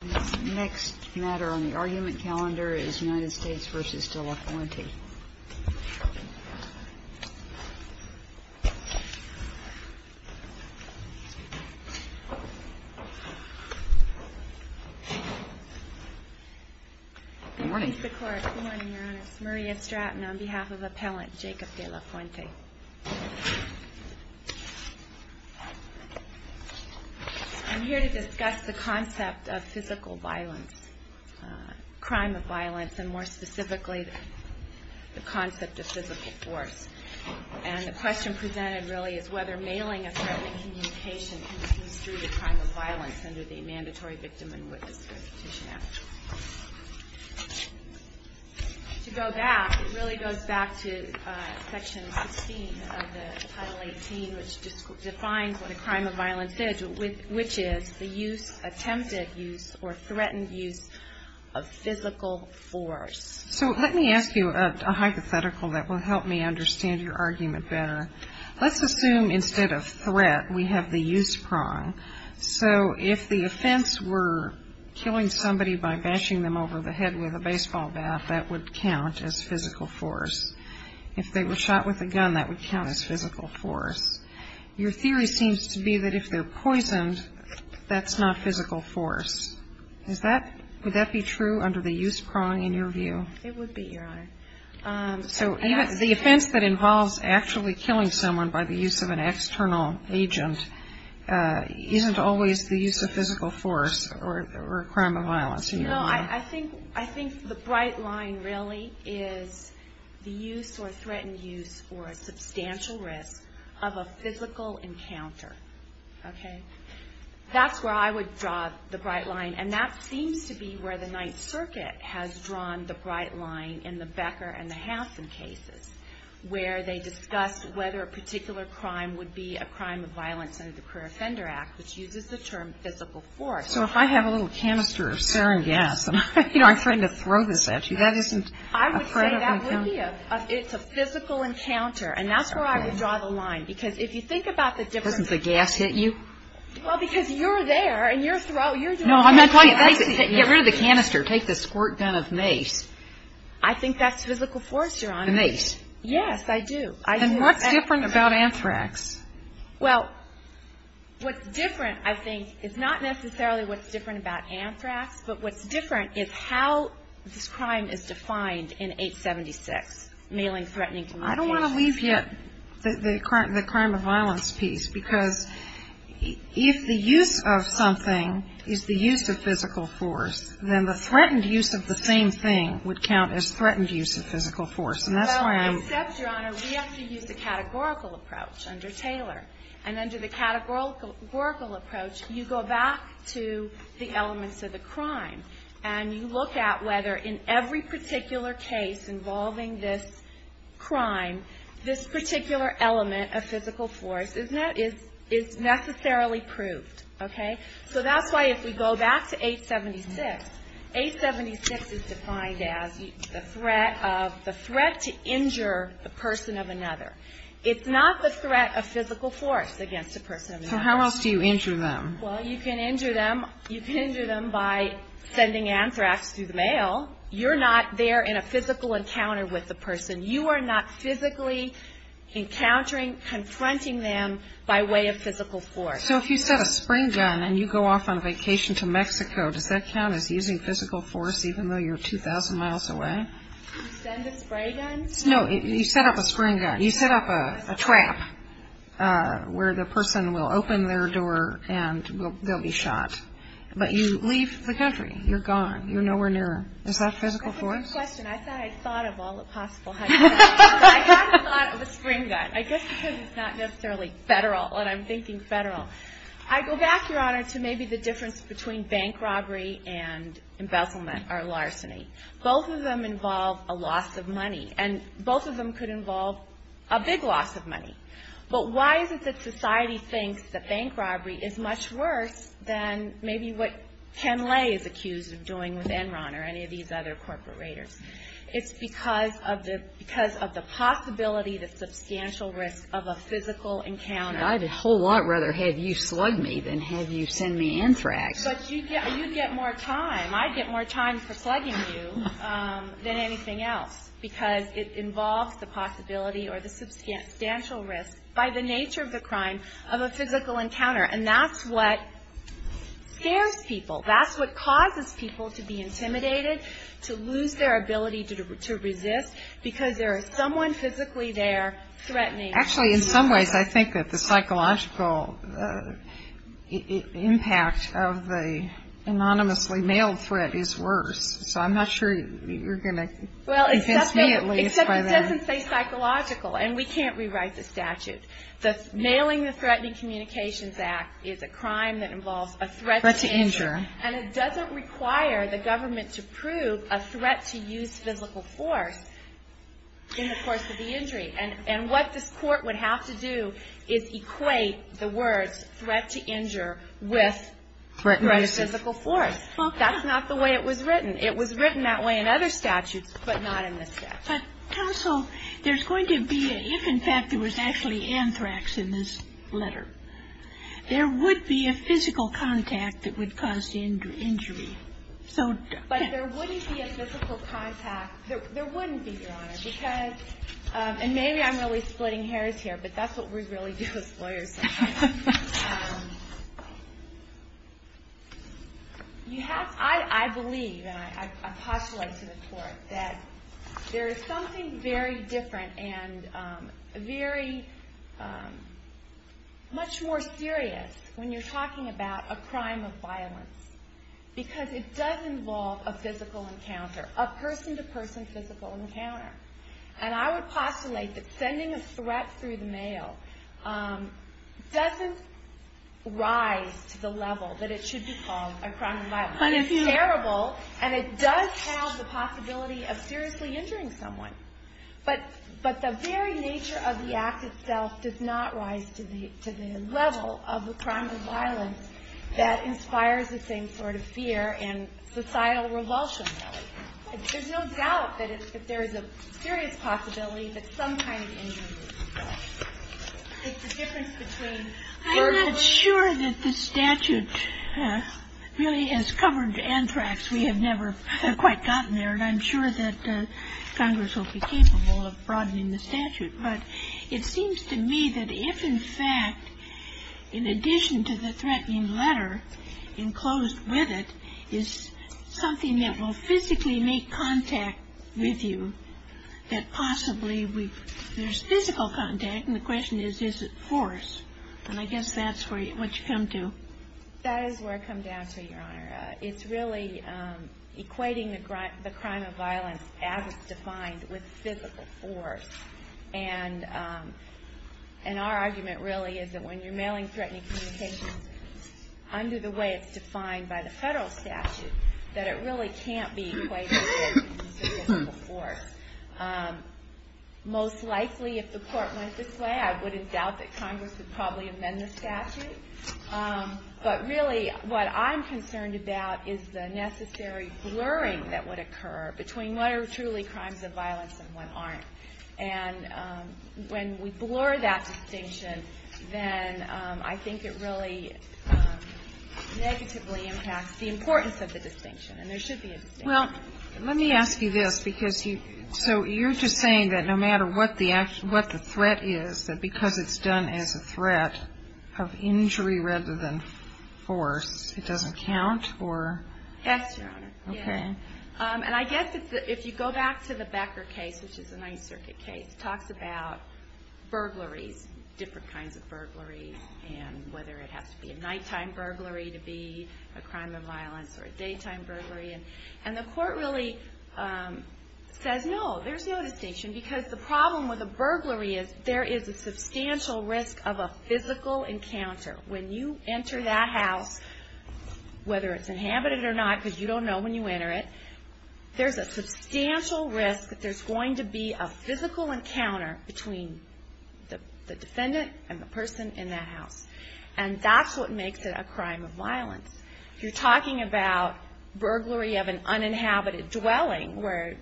The next matter on the argument calendar is United States v. De La Fuente. Good morning. Good morning, Your Honor. This is Maria Stratton on behalf of Appellant Jacob De La Fuente. I'm here to discuss the concept of physical violence, crime of violence, and more specifically the concept of physical force. And the question presented really is whether mailing a threatening communication continues through the crime of violence under the Mandatory Victim and Witness Restitution Act. To go back, it really goes back to Section 16 of the Title 18, which defines what a crime of violence is, which is the use, attempted use, or threatened use of physical force. So let me ask you a hypothetical that will help me understand your argument better. Let's assume instead of threat we have the use prong. So if the offense were killing somebody by bashing them over the head with a baseball bat, that would count as physical force. If they were shot with a gun, that would count as physical force. Your theory seems to be that if they're poisoned, that's not physical force. Would that be true under the use prong in your view? It would be, Your Honor. So the offense that involves actually killing someone by the use of an external agent isn't always the use of physical force or a crime of violence. No, I think the bright line really is the use or threatened use or substantial risk of a physical encounter. Okay? That's where I would draw the bright line, and that seems to be where the Ninth Circuit has drawn the bright line in the Becker and the Hansen cases, where they discuss whether a particular crime would be a crime of violence under the Career Offender Act, which uses the term physical force. So if I have a little canister of sarin gas and I'm trying to throw this at you, that isn't a threat of encounter? I would say that would be a physical encounter, and that's where I would draw the line. Because if you think about the difference. Doesn't the gas hit you? Well, because you're there, and you're throwing. No, I'm not throwing. Get rid of the canister. Take the squirt gun of mace. I think that's physical force, Your Honor. The mace. Yes, I do. And what's different about anthrax? Well, what's different, I think, is not necessarily what's different about anthrax, but what's different is how this crime is defined in 876, Mailing Threatening Communications. I don't want to leave yet the crime of violence piece, because if the use of something is the use of physical force, then the threatened use of the same thing would count as threatened use of physical force. And that's why I'm. Well, except, Your Honor, we have to use the categorical approach under Taylor. And under the categorical approach, you go back to the elements of the crime, and you every particular case involving this crime, this particular element of physical force is necessarily proved. Okay? So that's why if we go back to 876, 876 is defined as the threat to injure the person of another. It's not the threat of physical force against a person of another. So how else do you injure them? Well, you can injure them by sending anthrax through the mail. You're not there in a physical encounter with the person. You are not physically encountering, confronting them by way of physical force. So if you set a spring gun and you go off on a vacation to Mexico, does that count as using physical force, even though you're 2,000 miles away? You send a spray gun? No, you set up a spring gun. You set up a trap where the person will open their door and they'll be shot. But you leave the country. You're gone. You're nowhere near. Is that physical force? That's a good question. I thought of all the possible hypotheticals. I haven't thought of a spring gun. I guess because it's not necessarily federal, and I'm thinking federal. I go back, Your Honor, to maybe the difference between bank robbery and embezzlement or larceny. Both of them involve a loss of money. And both of them could involve a big loss of money. But why is it that society thinks that bank robbery is much worse than maybe what Ken Lay is accused of doing with Enron or any of these other corporate raiders? It's because of the possibility, the substantial risk of a physical encounter. I'd a whole lot rather have you slug me than have you send me anthrax. But you get more time. for slugging you than anything else because it involves the possibility or the substantial risk, by the nature of the crime, of a physical encounter. And that's what scares people. That's what causes people to be intimidated, to lose their ability to resist, because there is someone physically there threatening. Actually, in some ways, I think that the psychological impact of the anonymously mailed threat is worse. So I'm not sure you're going to convince me at least by that. Except it doesn't say psychological. And we can't rewrite the statute. The Mailing the Threatening Communications Act is a crime that involves a threat to injury. And it doesn't require the government to prove a threat to use physical force in the course of the injury. And what this Court would have to do is equate the words threat to injure with threat to physical force. Well, that's not the way it was written. It was written that way in other statutes, but not in this statute. But, counsel, there's going to be a, if, in fact, there was actually anthrax in this letter, there would be a physical contact that would cause the injury. But there wouldn't be a physical contact. There wouldn't be, Your Honor. And maybe I'm really splitting hairs here, but that's what we really do as lawyers sometimes. I believe, and I postulate to the Court, that there is something very different and very much more serious when you're talking about a crime of violence. Because it does involve a physical encounter, a person-to-person physical encounter. And I would postulate that sending a threat through the mail doesn't rise to the level that it should be called a crime of violence. It's terrible, and it does have the possibility of seriously injuring someone. But the very nature of the act itself does not rise to the level of a crime of violence that inspires the same sort of fear and societal revulsion. There's no doubt that there is a serious possibility that some kind of injury is involved. It's the difference between verbally and physically. I'm not sure that the statute really has covered anthrax. We have never quite gotten there. And I'm sure that Congress will be capable of broadening the statute. But it seems to me that if, in fact, in addition to the threatening letter enclosed with it, is something that will physically make contact with you, that possibly there's physical contact. And the question is, is it force? And I guess that's what you come to. That is where I come down to, Your Honor. It's really equating the crime of violence as it's defined with physical force. And our argument really is that when you're mailing threatening communications under the way it's defined by the federal statute, that it really can't be equated with physical force. Most likely, if the court went this way, I wouldn't doubt that Congress would probably amend the statute. But really, what I'm concerned about is the necessary blurring that would occur between what are truly crimes of violence and what aren't. And when we blur that distinction, then I think it really negatively impacts the importance of the distinction. And there should be a distinction. Well, let me ask you this. So you're just saying that no matter what the threat is, that because it's done as a threat of injury rather than force, it doesn't count? Yes, Your Honor. Okay. And I guess if you go back to the Becker case, which is a Ninth Circuit case, it talks about burglaries, different kinds of burglaries, and whether it has to be a nighttime burglary to be a crime of violence or a daytime burglary. And the court really says, no, there's no distinction. Because the problem with a burglary is there is a substantial risk of a physical encounter. When you enter that house, whether it's inhabited or not, because you don't know when you enter it, there's a substantial risk that there's going to be a physical encounter between the defendant and the person in that house. And that's what makes it a crime of violence. You're talking about burglary of an uninhabited dwelling where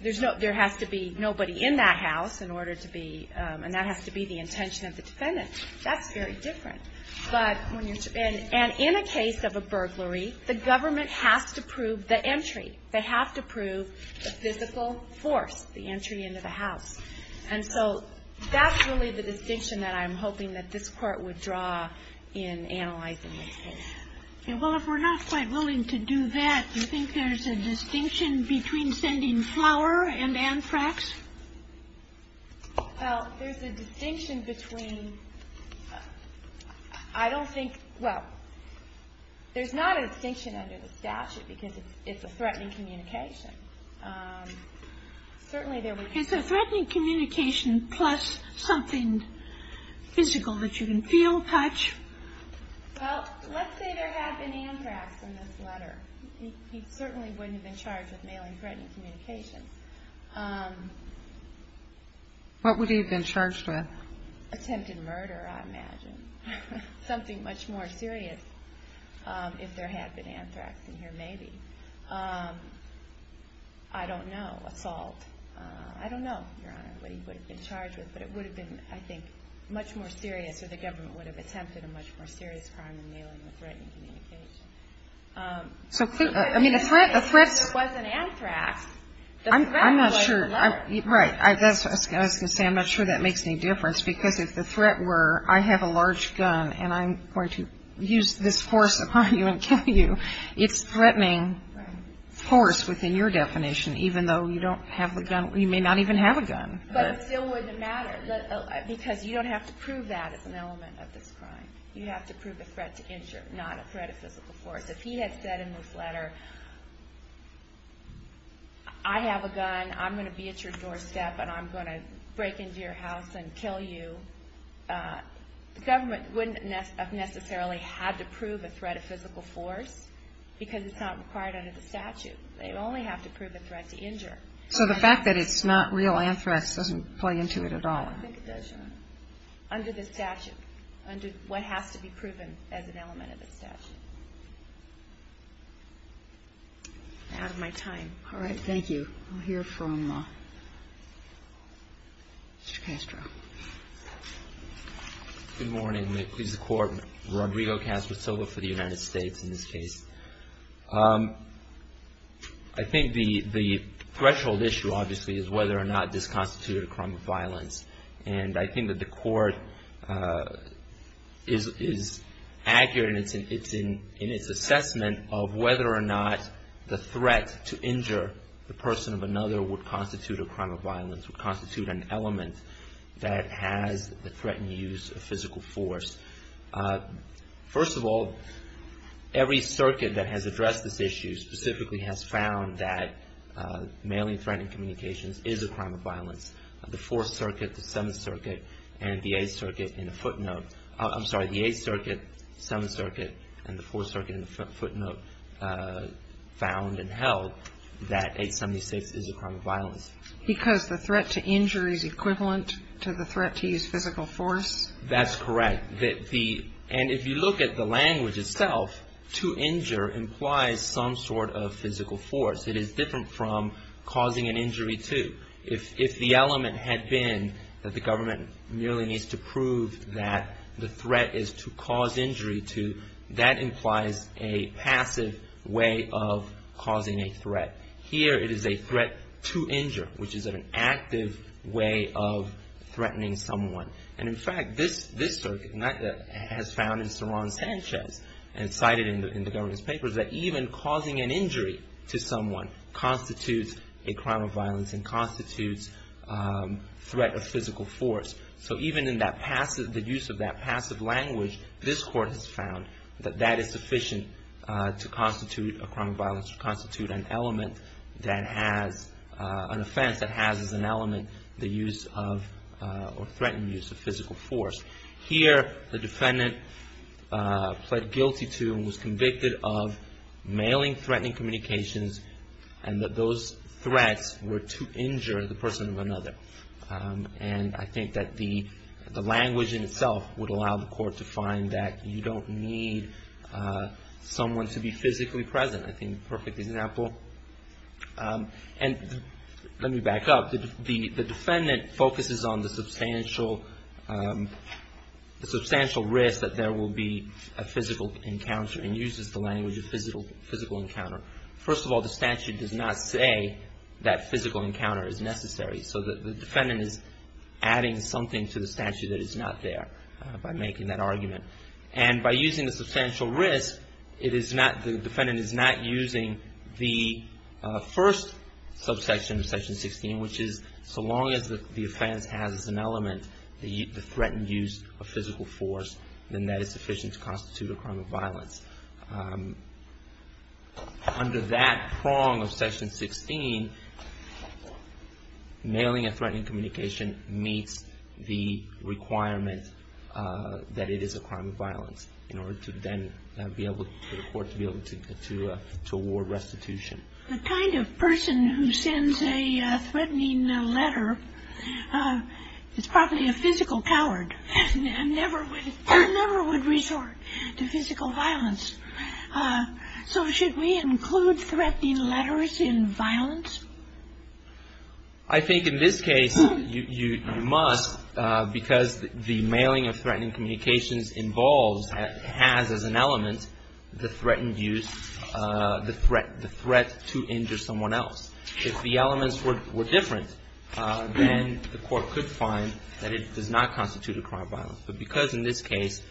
there has to be nobody in that house in order to be, and that has to be the intention of the defendant. That's very different. And in a case of a burglary, the government has to prove the entry. They have to prove the physical force, the entry into the house. And so that's really the distinction that I'm hoping that this Court would draw in analyzing this case. Okay. Well, if we're not quite willing to do that, do you think there's a distinction between sending flour and anthrax? Well, there's a distinction between – I don't think – well, there's not a distinction under the statute because it's a threatening communication. Certainly there would be. Okay, so threatening communication plus something physical that you can feel, touch. Well, let's say there had been anthrax in this letter. He certainly wouldn't have been charged with mailing threatening communication. What would he have been charged with? Attempted murder, I imagine. Something much more serious if there had been anthrax in here, maybe. I don't know. Assault. I don't know, Your Honor, what he would have been charged with, but it would have been, I think, much more serious, or the government would have attempted a much more serious crime than mailing a threatening communication. I mean, a threat – If it wasn't anthrax, the threat would have been murder. Right. I was going to say I'm not sure that makes any difference because if the threat were I have a large gun and I'm going to use this force upon you and kill you, it's threatening force within your definition, even though you may not even have a gun. But it still wouldn't matter because you don't have to prove that as an element of this crime. You have to prove a threat to injure, not a threat of physical force. If he had said in this letter I have a gun, I'm going to be at your doorstep, and I'm going to break into your house and kill you, the government wouldn't have necessarily had to prove a threat of physical force because it's not required under the statute. They only have to prove a threat to injure. So the fact that it's not real anthrax doesn't play into it at all. I don't think it does, Your Honor, under the statute, under what has to be proven as an element of the statute. I'm out of my time. All right. Thank you. We'll hear from Mr. Castro. Good morning. May it please the Court, Rodrigo Castro Silva for the United States in this case. I think the threshold issue, obviously, is whether or not this constituted a crime of violence, and I think that the Court is accurate in its assessment of whether or not the threat to injure the person of another would constitute a crime of violence, would constitute an element that has the threatened use of physical force. First of all, every circuit that has addressed this issue specifically has found that mailing threatening communications is a crime of violence. The Fourth Circuit, the Seventh Circuit, and the Eighth Circuit in the footnote. I'm sorry, the Eighth Circuit, Seventh Circuit, and the Fourth Circuit in the footnote found and held that 876 is a crime of violence. Because the threat to injury is equivalent to the threat to use physical force? That's correct. And if you look at the language itself, to injure implies some sort of physical force. It is different from causing an injury to. If the element had been that the government merely needs to prove that the threat is to cause injury to, that implies a passive way of causing a threat. Here it is a threat to injure, which is an active way of threatening someone. And in fact, this circuit has found in Ceron Sanchez, and it's cited in the government's papers, that even causing an injury to someone constitutes a crime of violence and constitutes threat of physical force. So even in the use of that passive language, this court has found that that is sufficient to constitute a crime of violence, to constitute an offense that has as an element the use of or threatened use of physical force. Here the defendant pled guilty to and was convicted of mailing threatening communications and that those threats were to injure the person of another. And I think that the language in itself would allow the court to find that you don't need someone to be physically present. I think a perfect example. And let me back up. The defendant focuses on the substantial risk that there will be a physical encounter and uses the language of physical encounter. First of all, the statute does not say that physical encounter is necessary. So the defendant is adding something to the statute that is not there by making that argument. And by using the substantial risk, the defendant is not using the first subsection of Section 16, which is so long as the offense has as an element the threatened use of physical force, then that is sufficient to constitute a crime of violence. Under that prong of Section 16, mailing a threatening communication meets the requirement that it is a crime of violence in order for the court to be able to award restitution. The kind of person who sends a threatening letter is probably a physical coward and never would resort to physical violence. So should we include threatening letters in violence? I think in this case you must because the mailing of threatening communications involves, has as an element, the threatened use, the threat to injure someone else. If the elements were different, then the court could find that it does not constitute a crime of violence. But because in this case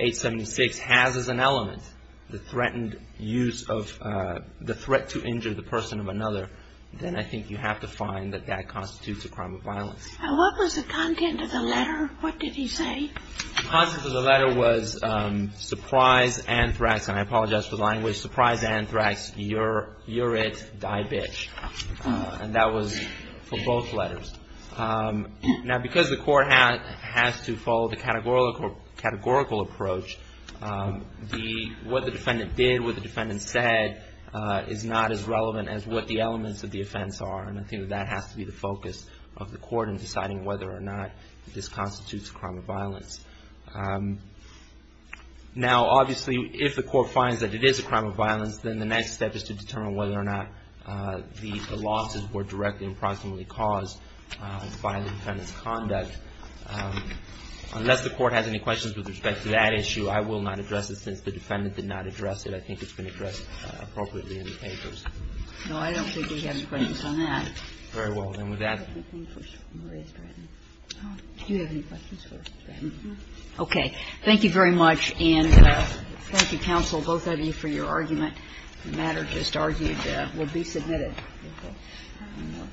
876 has as an element the threatened use of, the threat to injure the person of another, then I think you have to find that that constitutes a crime of violence. What was the content of the letter? What did he say? The content of the letter was surprise, anthrax, and I apologize for the language, but it was surprise, anthrax, you're it, die bitch. And that was for both letters. Now because the court has to follow the categorical approach, what the defendant did, what the defendant said, is not as relevant as what the elements of the offense are, and I think that has to be the focus of the court in deciding whether or not this constitutes a crime of violence. Now obviously if the court finds that it is a crime of violence, then the next step is to determine whether or not the losses were directly or proximately caused by the defendant's conduct. Unless the court has any questions with respect to that issue, I will not address it since the defendant did not address it. I think it's been addressed appropriately in the papers. No, I don't think we have any questions on that. Very well, then with that. Do you have any questions for Ms. Bratton? Okay. Thank you very much, and thank you, counsel, both of you, for your argument. The matter just argued will be submitted. Thank you.